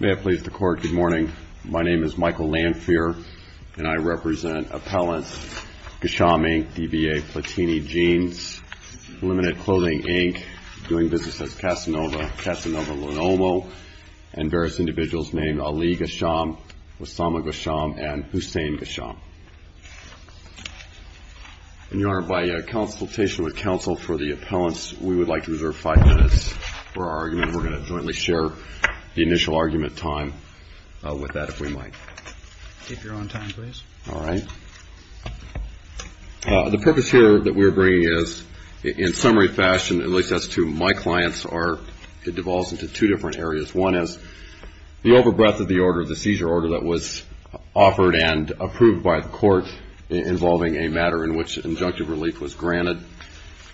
May it please the Court, good morning. My name is Michael Lanphier, and I represent appellants Ghacham, Inc., DBA Platini Jeans, Illuminated Clothing, Inc., Doing Business as Casanova, Casanova Lenomo, and various individuals named Ali Ghacham, Osama Ghacham, and Hussein Ghacham. And, Your Honor, by consultation with counsel for the appellants, we would like to reserve five minutes for our argument. We're going to jointly share the initial argument time with that, if we might. Keep your own time, please. All right. The purpose here that we're bringing is, in summary fashion, at least as to my clients, it devolves into two different areas. One is the over-breath of the order, the seizure order that was offered and approved by the Court involving a matter in which injunctive relief was granted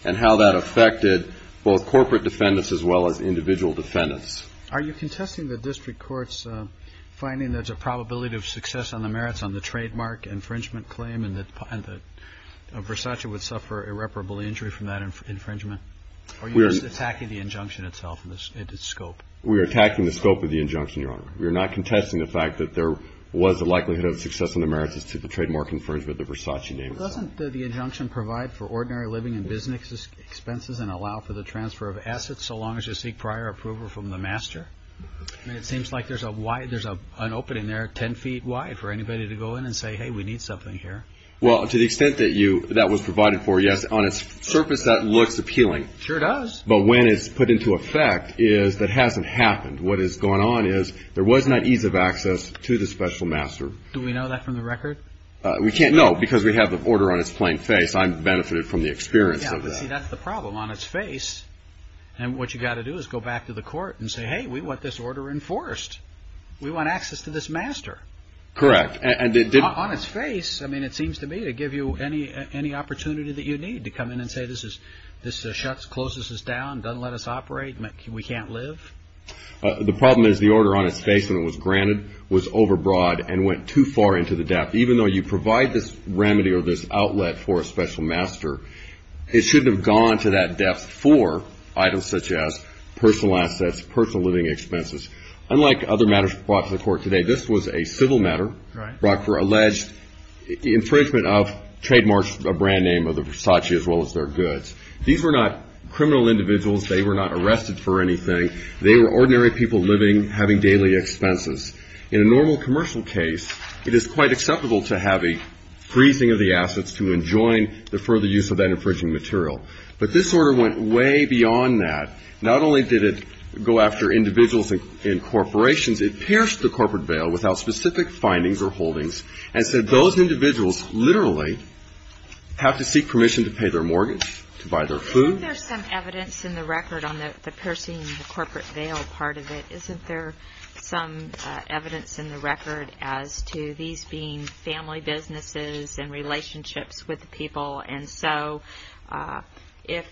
and how that affected both corporate defendants as well as individual defendants. Are you contesting the district court's finding that there's a probability of success on the merits on the trademark infringement claim and that Versace would suffer irreparable injury from that infringement? Or are you just attacking the injunction itself and its scope? We are attacking the scope of the injunction, Your Honor. We are not contesting the fact that there was a likelihood of success on the merits as to the trademark infringement that Versace named itself. Well, doesn't the injunction provide for ordinary living and business expenses and allow for the transfer of assets so long as you seek prior approval from the master? I mean, it seems like there's an opening there 10 feet wide for anybody to go in and say, hey, we need something here. Well, to the extent that that was provided for, yes, on its surface that looks appealing. Sure does. But when it's put into effect is that hasn't happened. What has gone on is there was not ease of access to the special master. Do we know that from the record? We can't know because we have the order on its plain face. I've benefited from the experience of that. See, that's the problem. On its face, and what you've got to do is go back to the court and say, hey, we want this order enforced. We want access to this master. Correct. On its face, I mean, it seems to me to give you any opportunity that you need to come in and say this shuts, closes us down, doesn't let us operate, we can't live. The problem is the order on its face when it was granted was overbroad and went too far into the depth. Even though you provide this remedy or this outlet for a special master, it shouldn't have gone to that depth for items such as personal assets, personal living expenses. Unlike other matters brought to the court today, this was a civil matter brought for alleged infringement of, trademarked a brand name of the Versace as well as their goods. These were not criminal individuals. They were not arrested for anything. They were ordinary people living, having daily expenses. In a normal commercial case, it is quite acceptable to have a freezing of the assets to enjoin the further use of that infringing material. But this order went way beyond that. Not only did it go after individuals and corporations, it pierced the corporate veil without specific findings or holdings, and said those individuals literally have to seek permission to pay their mortgage, to buy their food. Isn't there some evidence in the record on the piercing the corporate veil part of it? Isn't there some evidence in the record as to these being family businesses and relationships with the people? And so if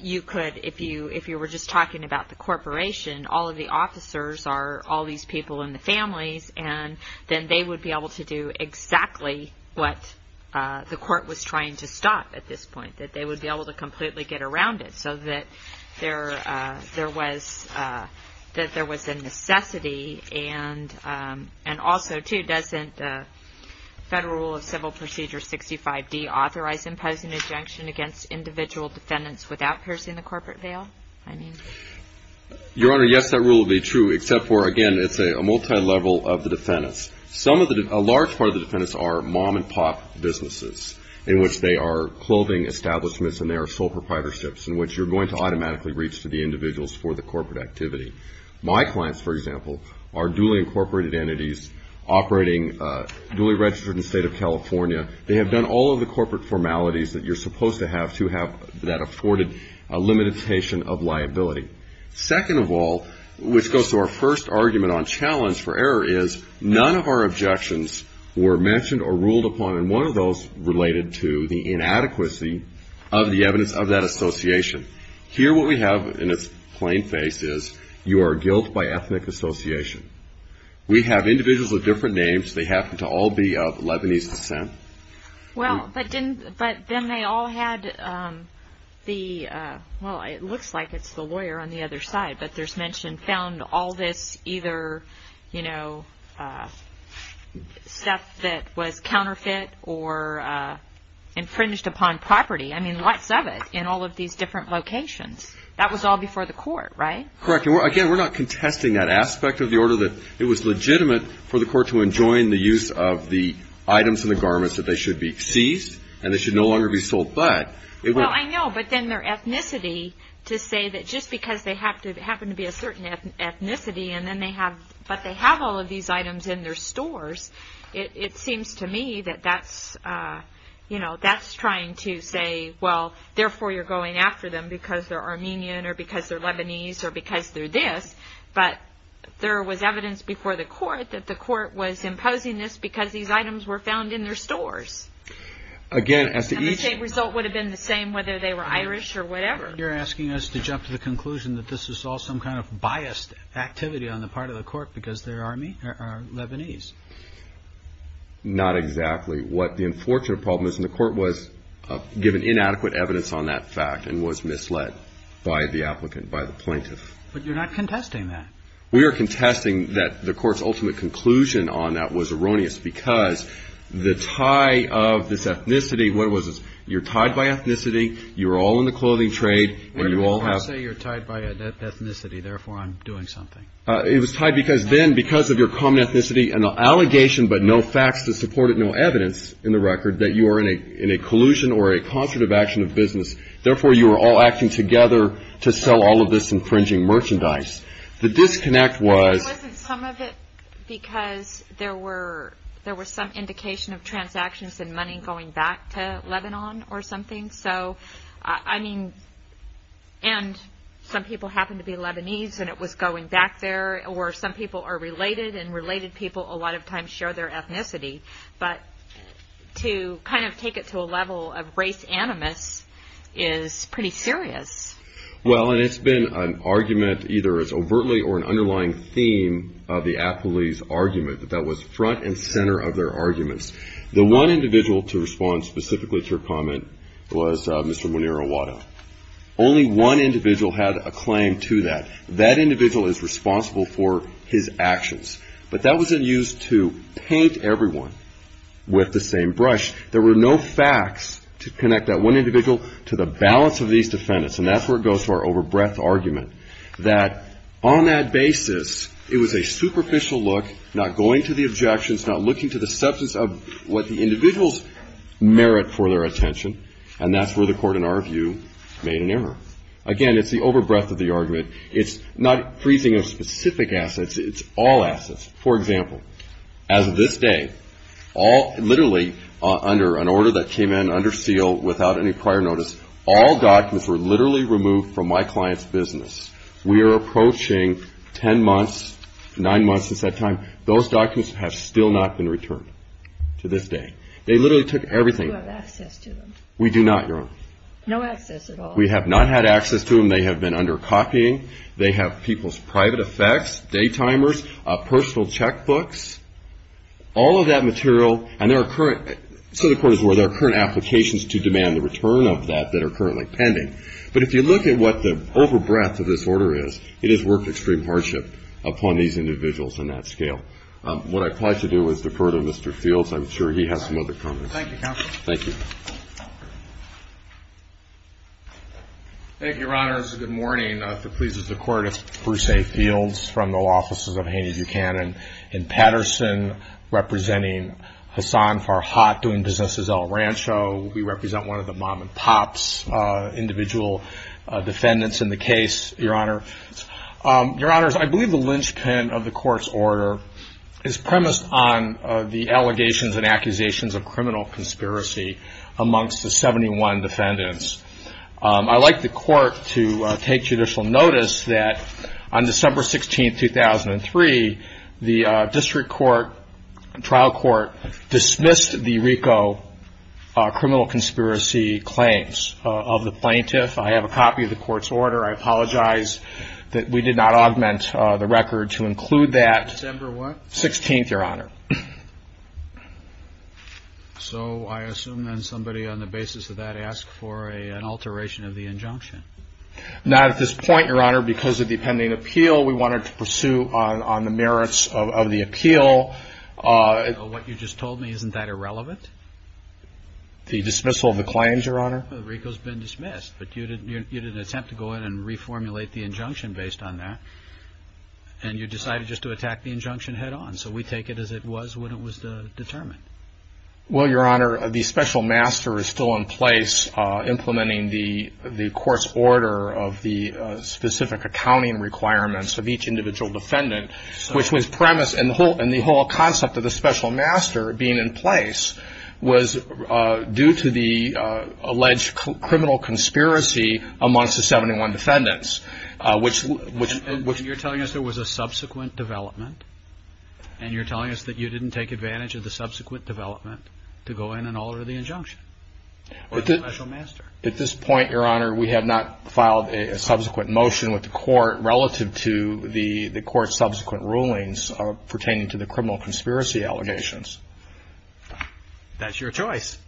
you could, if you were just talking about the corporation, all of the officers are all these people in the families, and then they would be able to do exactly what the court was trying to stop at this point, that they would be able to completely get around it so that there was a necessity. And also, too, doesn't the Federal Rule of Civil Procedure 65D authorize imposing injunction against individual defendants without piercing the corporate veil? Your Honor, yes, that rule would be true, except for, again, it's a multilevel of the defendants. Some of the, a large part of the defendants are mom-and-pop businesses, in which they are clothing establishments and they are sole proprietorships, in which you're going to automatically reach to the individuals for the corporate activity. My clients, for example, are duly incorporated entities operating, duly registered in the State of California. They have done all of the corporate formalities that you're supposed to have to have that afforded limitation of liability. Second of all, which goes to our first argument on challenge for error, is none of our objections were mentioned or ruled upon, and one of those related to the inadequacy of the evidence of that association. Here what we have in its plain face is you are guilt by ethnic association. We have individuals with different names. They happen to all be of Lebanese descent. Well, but then they all had the, well, it looks like it's the lawyer on the other side, but there's mention found all this either, you know, stuff that was counterfeit or infringed upon property. I mean, lots of it in all of these different locations. That was all before the court, right? Correct, and again, we're not contesting that aspect of the order that it was legitimate for the court to enjoin the use of the items in the garments that they should be seized and they should no longer be sold, but. Well, I know, but then their ethnicity to say that just because they happen to be a certain ethnicity and then they have, but they have all of these items in their stores, it seems to me that that's, you know, that's trying to say, well, therefore you're going after them because they're Armenian or because they're Lebanese or because they're this, but there was evidence before the court that the court was imposing this because these items were found in their stores. Again, as to each. And the same result would have been the same whether they were Irish or whatever. You're asking us to jump to the conclusion that this is all some kind of biased activity on the part of the court because they are Lebanese. Not exactly. What the unfortunate problem is, and the court was given inadequate evidence on that fact and was misled by the applicant, by the plaintiff. But you're not contesting that. We are contesting that the court's ultimate conclusion on that was erroneous because the tie of this ethnicity, what it was, you're tied by ethnicity, you're all in the clothing trade, and you all have. I didn't say you're tied by ethnicity, therefore I'm doing something. It was tied because then because of your common ethnicity and the allegation but no facts to support it, no evidence in the record that you are in a collusion or a concerted action of business, therefore you are all acting together to sell all of this infringing merchandise. The disconnect was. It wasn't some of it because there were some indication of transactions and money going back to Lebanon or something. So, I mean, and some people happen to be Lebanese and it was going back there, or some people are related, and related people a lot of times share their ethnicity. But to kind of take it to a level of race animus is pretty serious. Well, and it's been an argument either as overtly or an underlying theme of the appellee's argument that that was front and center of their arguments. The one individual to respond specifically to her comment was Mr. Muneer Awadah. Only one individual had a claim to that. That individual is responsible for his actions. But that wasn't used to paint everyone with the same brush. There were no facts to connect that one individual to the balance of these defendants. And that's where it goes to our over breadth argument that on that basis it was a superficial look, not going to the objections, not looking to the substance of what the individuals merit for their attention. And that's where the Court, in our view, made an error. Again, it's the over breadth of the argument. It's not freezing of specific assets. It's all assets. For example, as of this day, literally under an order that came in under seal without any prior notice, all documents were literally removed from my client's business. We are approaching ten months, nine months since that time. Those documents have still not been returned to this day. They literally took everything. Do you have access to them? We do not, Your Honor. No access at all? We have not had access to them. They have been under copying. They have people's private effects, day timers, personal checkbooks, all of that material. And there are current, so the Court is aware, there are current applications to demand the return of that that are currently pending. But if you look at what the over breadth of this order is, it has worked extreme hardship upon these individuals on that scale. What I'd like to do is defer to Mr. Fields. I'm sure he has some other comments. Thank you, Counsel. Thank you. Thank you, Your Honors. Good morning. If it pleases the Court, it's Bruce A. Fields from the Law Offices of Haney Buchanan and Patterson, representing Hassan Farhat doing business as El Rancho. We represent one of the mom and pop's individual defendants in the case, Your Honor. Your Honors, I believe the linchpin of the Court's order is premised on the allegations and accusations of criminal conspiracy amongst the 71 defendants. I'd like the Court to take judicial notice that on December 16, 2003, the district court, trial court, dismissed the RICO criminal conspiracy claims of the plaintiff. I have a copy of the Court's order. I apologize that we did not augment the record to include that. December what? 16th, Your Honor. So I assume then somebody on the basis of that asked for an alteration of the injunction. Not at this point, Your Honor. Because of the pending appeal, we wanted to pursue on the merits of the appeal. What you just told me, isn't that irrelevant? The dismissal of the claims, Your Honor? RICO's been dismissed, but you didn't attempt to go in and reformulate the injunction based on that, and you decided just to attack the injunction head-on. So we take it as it was when it was determined. Well, Your Honor, the special master is still in place, implementing the Court's order of the specific accounting requirements of each individual defendant, which was premised, and the whole concept of the special master being in place, was due to the alleged criminal conspiracy amongst the 71 defendants, And you're telling us there was a subsequent development, and you're telling us that you didn't take advantage of the subsequent development to go in and alter the injunction? Or the special master? At this point, Your Honor, we have not filed a subsequent motion with the Court relative to the Court's subsequent rulings pertaining to the criminal conspiracy allegations. That's your choice.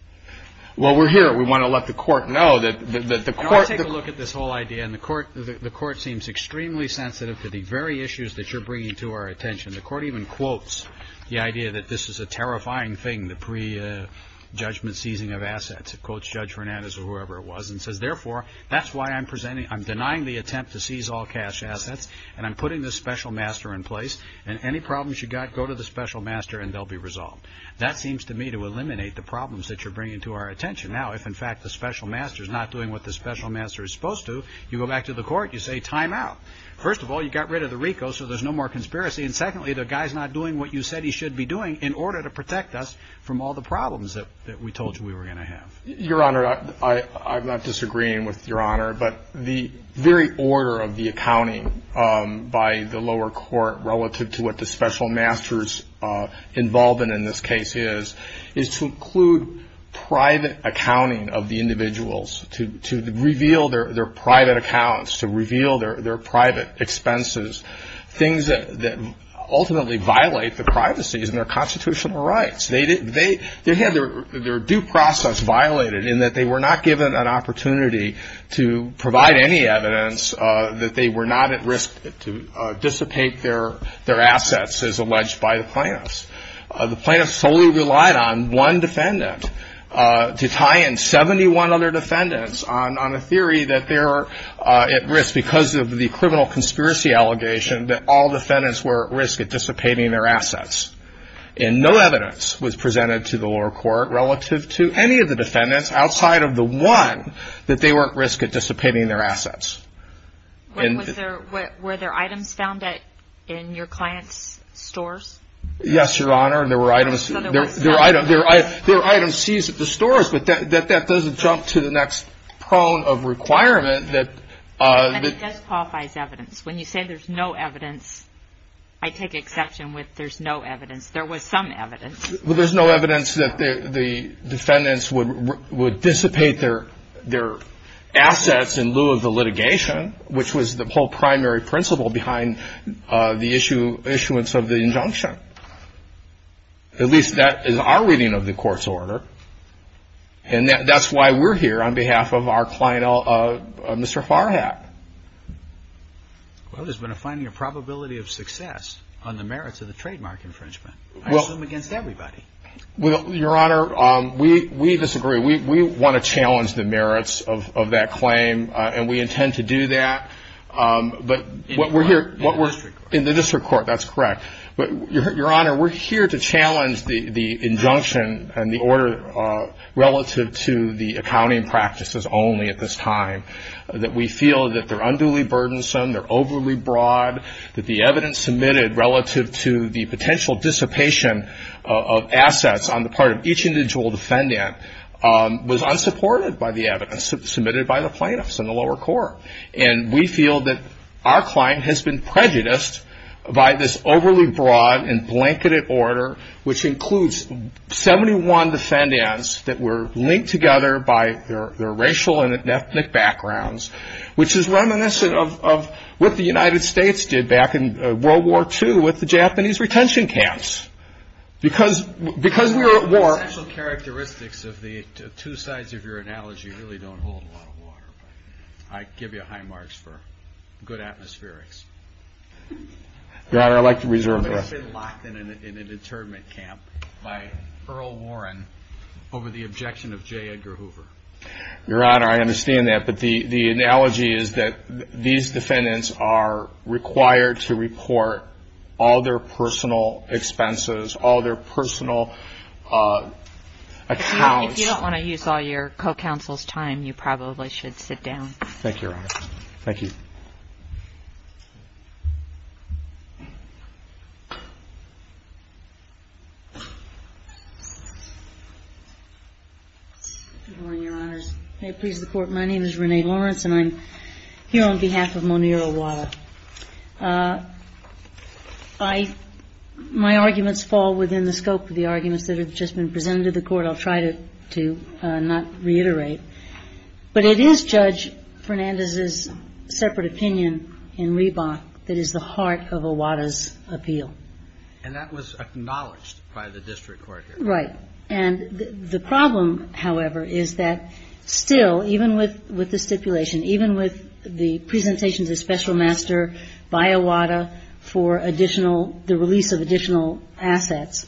Well, we're here. We want to let the Court know that the Court Well, I take a look at this whole idea, and the Court seems extremely sensitive to the very issues that you're bringing to our attention. The Court even quotes the idea that this is a terrifying thing, the prejudgment seizing of assets. It quotes Judge Fernandez or whoever it was and says, Therefore, that's why I'm denying the attempt to seize all cash assets, and I'm putting this special master in place, and any problems you've got, go to the special master and they'll be resolved. Now, if, in fact, the special master is not doing what the special master is supposed to, you go back to the Court, you say, time out. First of all, you got rid of the RICO, so there's no more conspiracy, and secondly, the guy's not doing what you said he should be doing in order to protect us from all the problems that we told you we were going to have. Your Honor, I'm not disagreeing with Your Honor, but the very order of the accounting by the lower court relative to what the special master's involvement in this case is to include private accounting of the individuals, to reveal their private accounts, to reveal their private expenses, things that ultimately violate the privacies and their constitutional rights. They had their due process violated in that they were not given an opportunity to provide any evidence that they were not at risk to dissipate their assets as alleged by the plaintiffs. The plaintiffs solely relied on one defendant to tie in 71 other defendants on a theory that they're at risk because of the criminal conspiracy allegation that all defendants were at risk at dissipating their assets. And no evidence was presented to the lower court relative to any of the defendants outside of the one that they were at risk at dissipating their assets. Were there items found in your client's stores? Yes, Your Honor. There were items seized at the stores, but that doesn't jump to the next prong of requirement. But it does qualify as evidence. When you say there's no evidence, I take exception with there's no evidence. There was some evidence. Well, there's no evidence that the defendants would dissipate their assets in lieu of the litigation, which was the whole primary principle behind the issuance of the injunction. At least that is our reading of the court's order. And that's why we're here on behalf of our client, Mr. Farhat. Well, there's been a finding of probability of success on the merits of the trademark infringement. I assume against everybody. Well, Your Honor, we disagree. We want to challenge the merits of that claim, and we intend to do that. In the district court. In the district court, that's correct. But, Your Honor, we're here to challenge the injunction and the order relative to the accounting practices only at this time, that we feel that they're unduly burdensome, they're overly broad, that the evidence submitted relative to the potential dissipation of assets on the part of each individual defendant was unsupported by the evidence submitted by the plaintiffs in the lower court. And we feel that our client has been prejudiced by this overly broad and blanketed order, which includes 71 defendants that were linked together by their racial and ethnic backgrounds, which is reminiscent of what the United States did back in World War II with the Japanese retention camps. Because we were at war. The essential characteristics of the two sides of your analogy really don't hold a lot of water, but I give you high marks for good atmospherics. Your Honor, I'd like to reserve the rest. I've been locked in an internment camp by Earl Warren over the objection of J. Edgar Hoover. Your Honor, I understand that, but the analogy is that these defendants are required to report all their personal expenses, all their personal accounts. If you don't want to use all your co-counsel's time, you probably should sit down. Thank you, Your Honor. Thank you. Good morning, Your Honors. May it please the Court. My name is Renee Lawrence, and I'm here on behalf of Monir Owada. My arguments fall within the scope of the arguments that have just been presented to the Court. I'll try to not reiterate. But it is Judge Fernandez's separate opinion in Reebok that is the heart of Owada's appeal. And that was acknowledged by the district court here. Right. And the problem, however, is that still, even with the stipulation, even with the presentations of Special Master by Owada for additional, the release of additional assets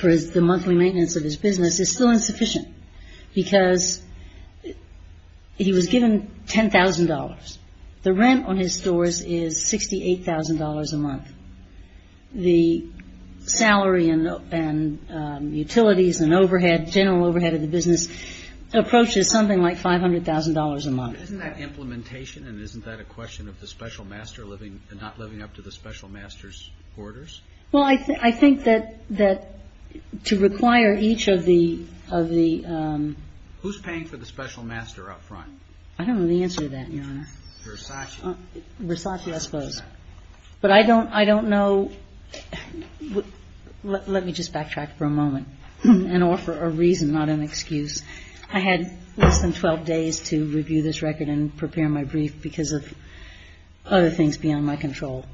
for the monthly maintenance of his business, is still insufficient because he was given $10,000. The rent on his stores is $68,000 a month. The salary and utilities and overhead, general overhead of the business, approaches something like $500,000 a month. Isn't that implementation? And isn't that a question of the Special Master not living up to the Special Master's orders? Well, I think that to require each of the — Who's paying for the Special Master up front? I don't know the answer to that, Your Honor. Versace. Versace, I suppose. But I don't know — let me just backtrack for a moment and offer a reason, not an excuse. I had less than 12 days to review this record and prepare my brief because of other things beyond my control.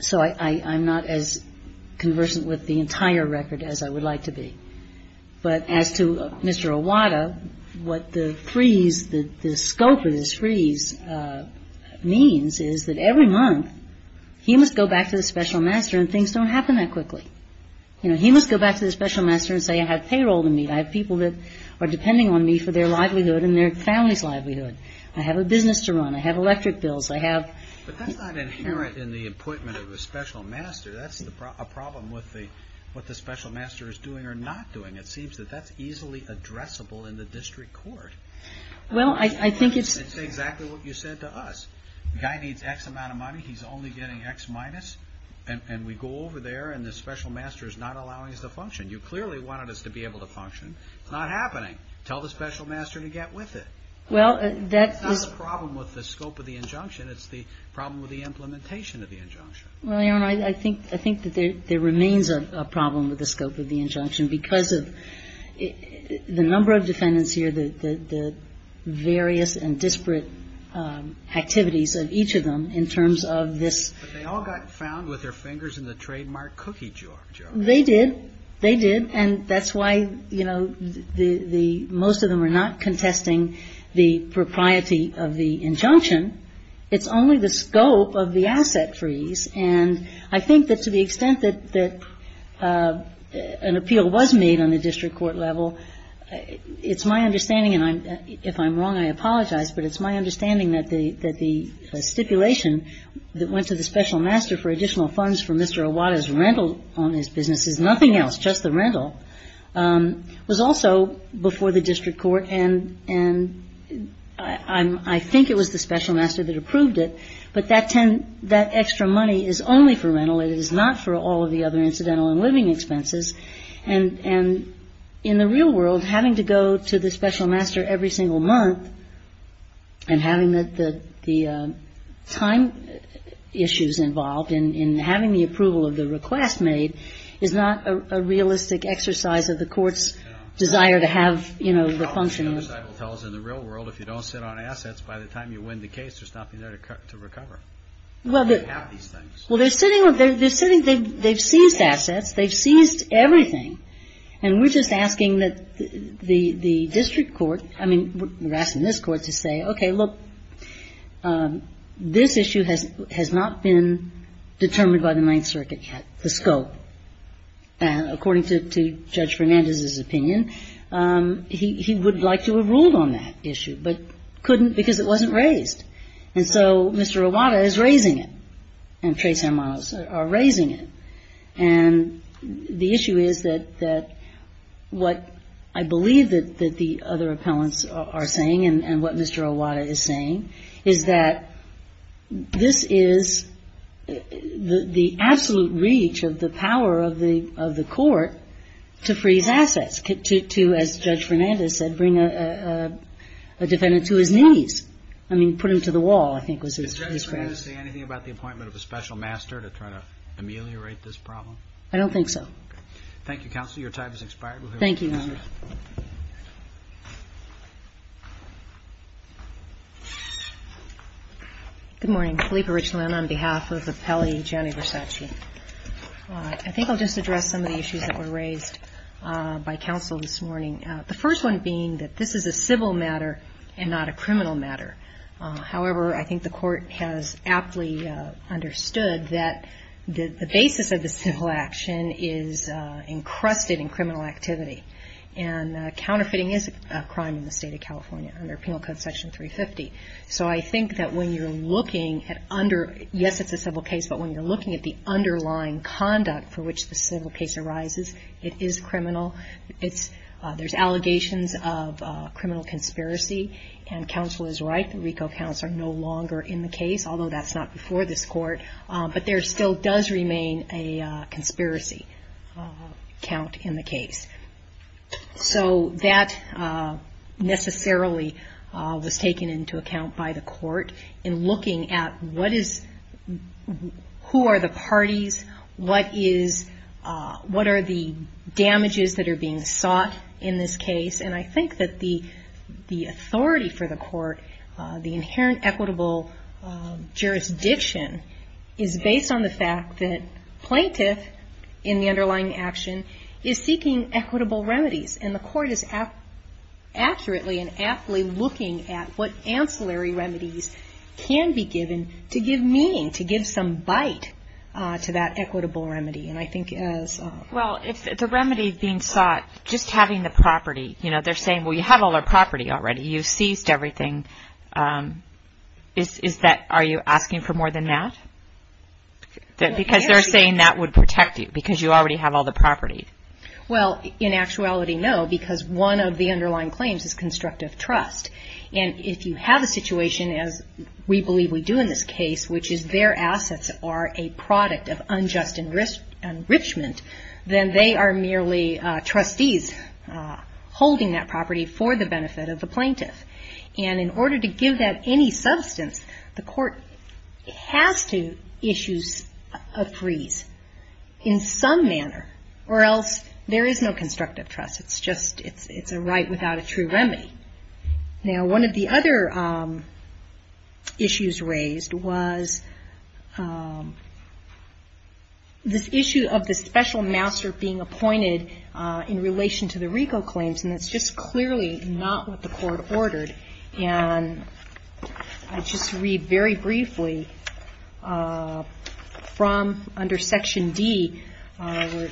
So I'm not as conversant with the entire record as I would like to be. But as to Mr. Iwata, what the freeze — the scope of this freeze means is that every month, he must go back to the Special Master and things don't happen that quickly. You know, he must go back to the Special Master and say, I have payroll to meet. I have people that are depending on me for their livelihood and their family's livelihood. I have a business to run. I have electric bills. I have — But that's not inherent in the appointment of a Special Master. That's a problem with what the Special Master is doing or not doing. It seems that that's easily addressable in the district court. Well, I think it's — It's exactly what you said to us. The guy needs X amount of money. He's only getting X minus. And we go over there and the Special Master is not allowing us to function. You clearly wanted us to be able to function. It's not happening. Tell the Special Master to get with it. Well, that is — It's the problem with the implementation of the injunction. Well, Your Honor, I think that there remains a problem with the scope of the injunction because of the number of defendants here, the various and disparate activities of each of them in terms of this — But they all got found with their fingers in the trademark cookie jar, Joe. They did. They did. And that's why, you know, the — most of them are not contesting the propriety of the injunction. It's only the scope of the asset freeze. And I think that to the extent that an appeal was made on the district court level, it's my understanding, and if I'm wrong, I apologize, but it's my understanding that the stipulation that went to the Special Master for additional funds for Mr. Iwata's rental on his businesses, nothing else, just the rental, was also before the district court. And I think it was the Special Master that approved it, but that extra money is only for rental. It is not for all of the other incidental and living expenses. And in the real world, having to go to the Special Master every single month and having the time issues involved in having the approval of the request made is not a realistic exercise of the court's desire to have, you know, the function. The problem, the other side will tell us, in the real world, if you don't sit on assets by the time you win the case, they're stopping there to recover. Well, they're sitting — they've seized assets. They've seized everything. And we're just asking that the district court — I mean, we're asking this court to say, Okay, look, this issue has not been determined by the Ninth Circuit yet, the scope. And according to Judge Fernandez's opinion, he would like to have ruled on that issue, but couldn't because it wasn't raised. And so Mr. Iwata is raising it, and Tres Hermanos are raising it. And the issue is that what I believe that the other appellants are saying and what Mr. Iwata is saying is that this is the absolute reach of the power of the court to freeze assets, to, as Judge Fernandez said, bring a defendant to his knees. I mean, put him to the wall, I think, was his phrase. Did Judge Fernandez say anything about the appointment of a special master to try to ameliorate this problem? I don't think so. Thank you, Counsel. Your time has expired. Thank you, Your Honor. Good morning. Philippa Richland on behalf of the Pele Gianni Versace. I think I'll just address some of the issues that were raised by counsel this morning, the first one being that this is a civil matter and not a criminal matter. However, I think the court has aptly understood that the basis of the civil action is encrusted in criminal activity. And counterfeiting is a crime in the state of California under Penal Code Section 350. So I think that when you're looking at under, yes, it's a civil case, but when you're looking at the underlying conduct for which the civil case arises, it is criminal. There's allegations of criminal conspiracy, and counsel is right. The RICO counts are no longer in the case, although that's not before this court. But there still does remain a conspiracy count in the case. So that necessarily was taken into account by the court in looking at what is, who are the parties, what is, what are the damages that are being sought in this case. And I think that the authority for the court, the inherent equitable jurisdiction is based on the fact that plaintiff in the underlying action is seeking equitable remedies. And the court is accurately and aptly looking at what ancillary remedies can be given to give meaning, to give some bite to that equitable remedy. And I think as the remedy being sought, just having the property, you know, they're saying, well, you have all our property already. You seized everything. Is that, are you asking for more than that? Because they're saying that would protect you, because you already have all the property. Well, in actuality, no, because one of the underlying claims is constructive trust. And if you have a situation, as we believe we do in this case, which is their assets are a product of unjust enrichment, then they are merely trustees holding that property for the benefit of the plaintiff. And in order to give that any substance, the court has to issue a freeze in some manner, or else there is no constructive trust. It's just, it's a right without a true remedy. Now, one of the other issues raised was this issue of the special master being appointed in relation to the RICO claims. And that's just clearly not what the court ordered. And I'll just read very briefly from under Section D, where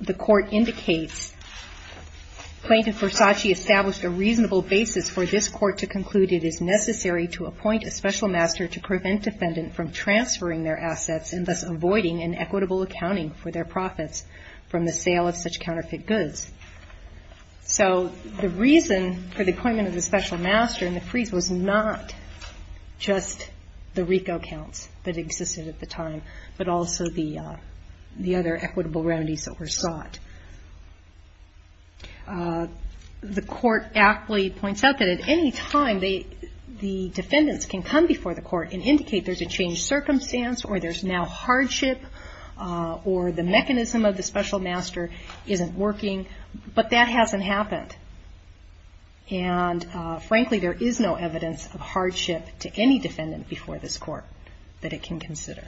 the court indicates, Plaintiff Versace established a reasonable basis for this court to conclude it is necessary to appoint a special master to prevent defendant from transferring their assets and thus avoiding an equitable accounting for their profits from the sale of such counterfeit goods. So the reason for the appointment of the special master in the freeze was not just the RICO accounts that existed at the time, but also the other equitable remedies that were sought. The court aptly points out that at any time the defendants can come before the court and indicate there's a changed circumstance or there's now hardship or the mechanism of the special master isn't working, but that hasn't happened. And frankly, there is no evidence of hardship to any defendant before this court that it can consider.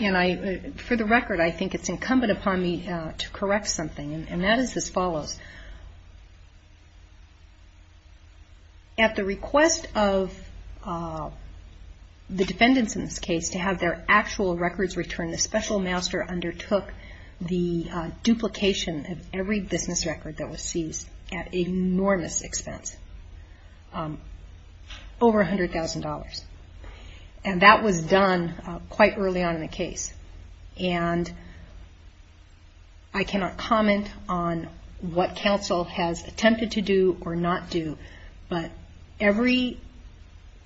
And for the record, I think it's incumbent upon me to correct something, and that is as follows. At the request of the defendants in this case to have their actual records returned, the special master undertook the duplication of every business record that was seized at enormous expense, over $100,000. And that was done quite early on in the case. And I cannot comment on what counsel has attempted to do or not do, but every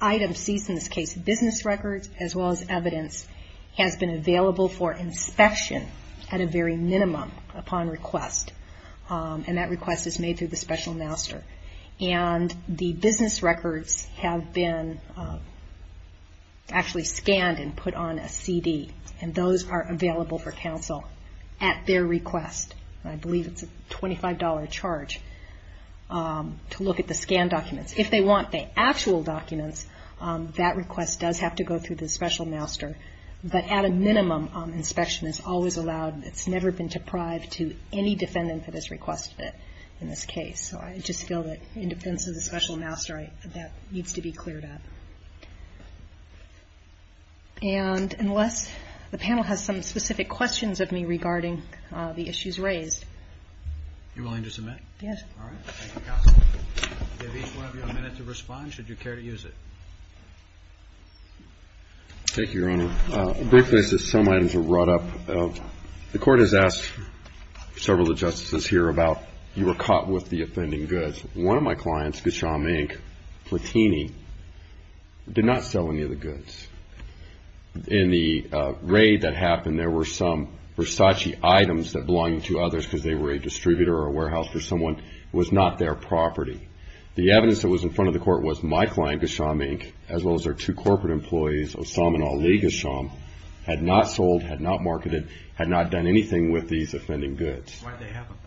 item seized in this case, business records as well as evidence, has been available for inspection at a very minimum upon request. And that request is made through the special master. And the business records have been actually scanned and put on a CD, and those are available for counsel at their request. I believe it's a $25 charge to look at the scanned documents. If they want the actual documents, that request does have to go through the special master, but at a minimum, inspection is always allowed, and it's never been deprived to any defendant that has requested it in this case. So I just feel that in defense of the special master, that needs to be cleared up. And unless the panel has some specific questions of me regarding the issues raised. You're willing to submit? Yes. All right. Thank you, counsel. We'll give each one of you a minute to respond, should you care to use it. Thank you, Your Honor. Briefly, some items were brought up. The court has asked several of the justices here about you were caught with the offending goods. One of my clients, Gasham Inc., Platini, did not sell any of the goods. In the raid that happened, there were some Versace items that belonged to others because they were a distributor or a warehouse for someone. It was not their property. The evidence that was in front of the court was my client, Gasham Inc., as well as their two corporate employees, Osam and Ali Gasham, had not sold, had not marketed, had not done anything with these offending goods. Why did they have them?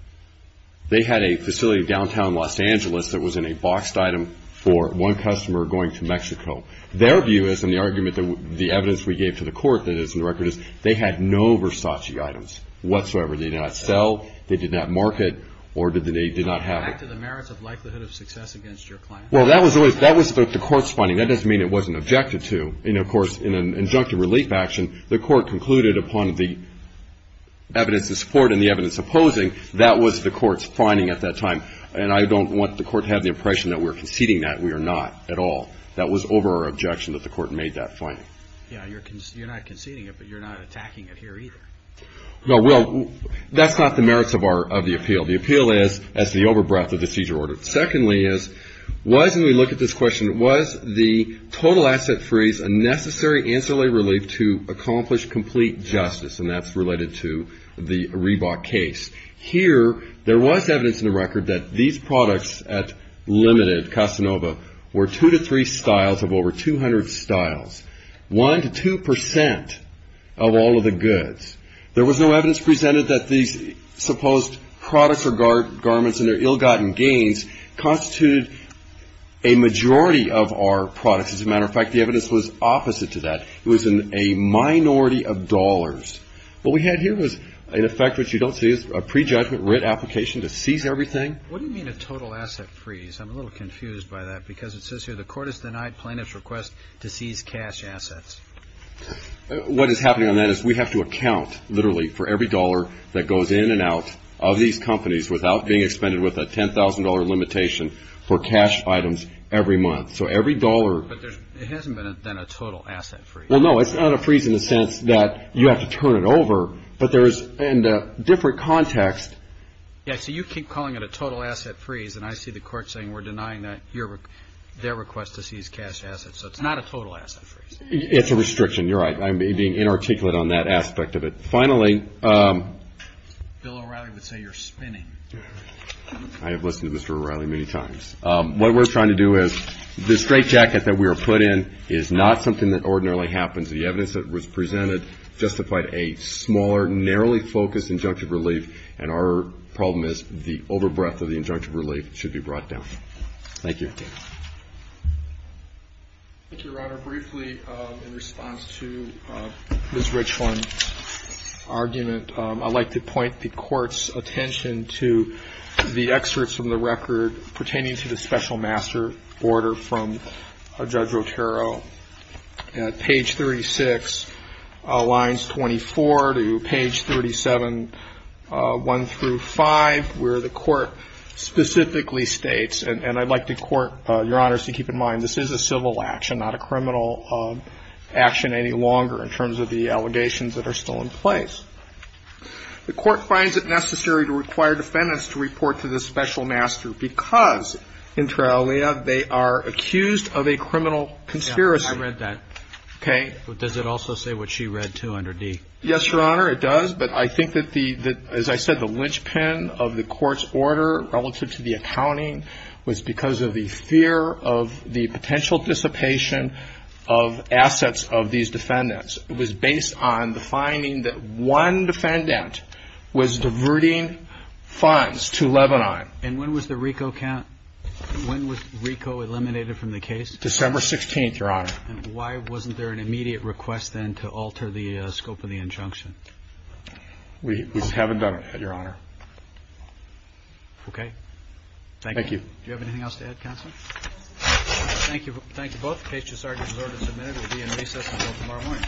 They had a facility in downtown Los Angeles that was in a boxed item for one customer going to Mexico. Their view is, and the argument that the evidence we gave to the court that is in the record is, they had no Versace items whatsoever. They did not sell, they did not market, or they did not have it. Back to the merits of likelihood of success against your client. Well, that was the court's finding. That doesn't mean it wasn't objected to. And, of course, in an injunctive relief action, the court concluded upon the evidence in support and the evidence opposing. That was the court's finding at that time. And I don't want the court to have the impression that we're conceding that. We are not at all. That was over our objection that the court made that finding. Yeah, you're not conceding it, but you're not attacking it here either. No, well, that's not the merits of the appeal. The appeal is as the over-breath of the seizure order. Secondly is, when we look at this question, was the total asset freeze a necessary ancillary relief to accomplish complete justice? And that's related to the Reebok case. Here, there was evidence in the record that these products at Limited, Casanova, were two to three styles of over 200 styles. One to two percent of all of the goods. There was no evidence presented that these supposed products or garments and their ill-gotten gains constituted a majority of our products. As a matter of fact, the evidence was opposite to that. It was a minority of dollars. What we had here was, in effect, what you don't see, is a prejudgment writ application to seize everything. What do you mean a total asset freeze? I'm a little confused by that because it says here, the court has denied plaintiff's request to seize cash assets. What is happening on that is we have to account, literally, for every dollar that goes in and out of these companies without being expended with a $10,000 limitation for cash items every month. So every dollar. But it hasn't been a total asset freeze. Well, no. It's not a freeze in the sense that you have to turn it over, but there is, in a different context. Yeah, so you keep calling it a total asset freeze, and I see the court saying we're denying their request to seize cash assets. So it's not a total asset freeze. It's a restriction. You're right. I'm being inarticulate on that aspect of it. Finally. Bill O'Reilly would say you're spinning. I have listened to Mr. O'Reilly many times. What we're trying to do is, the straitjacket that we were put in is not something that ordinarily happens. The evidence that was presented justified a smaller, narrowly focused injunctive relief, and our problem is the overbreath of the injunctive relief should be brought down. Thank you. Thank you. Your Honor, briefly in response to Ms. Richland's argument, I'd like to point the Court's attention to the excerpts from the record pertaining to the special master order from Judge Rotero. Page 36, lines 24 to page 37, 1 through 5, where the Court specifically states, and I'd like the Court, Your Honor, to keep in mind, this is a civil action, not a criminal action any longer, in terms of the allegations that are still in place. The Court finds it necessary to require defendants to report to the special master because, in trial, they are accused of a criminal conspiracy. I read that. Okay. Does it also say what she read, too, under D? Yes, Your Honor, it does, but I think that, as I said, the linchpin of the Court's order relative to the accounting was because of the fear of the potential dissipation of assets of these defendants. It was based on the finding that one defendant was diverting funds to Lebanon. And when was the RICO count? When was RICO eliminated from the case? December 16th, Your Honor. And why wasn't there an immediate request then to alter the scope of the injunction? We haven't done it, Your Honor. Okay. Thank you. Thank you. Do you have anything else to add, Counselor? Thank you both. The case is already resorted and submitted. It will be in recess until tomorrow morning.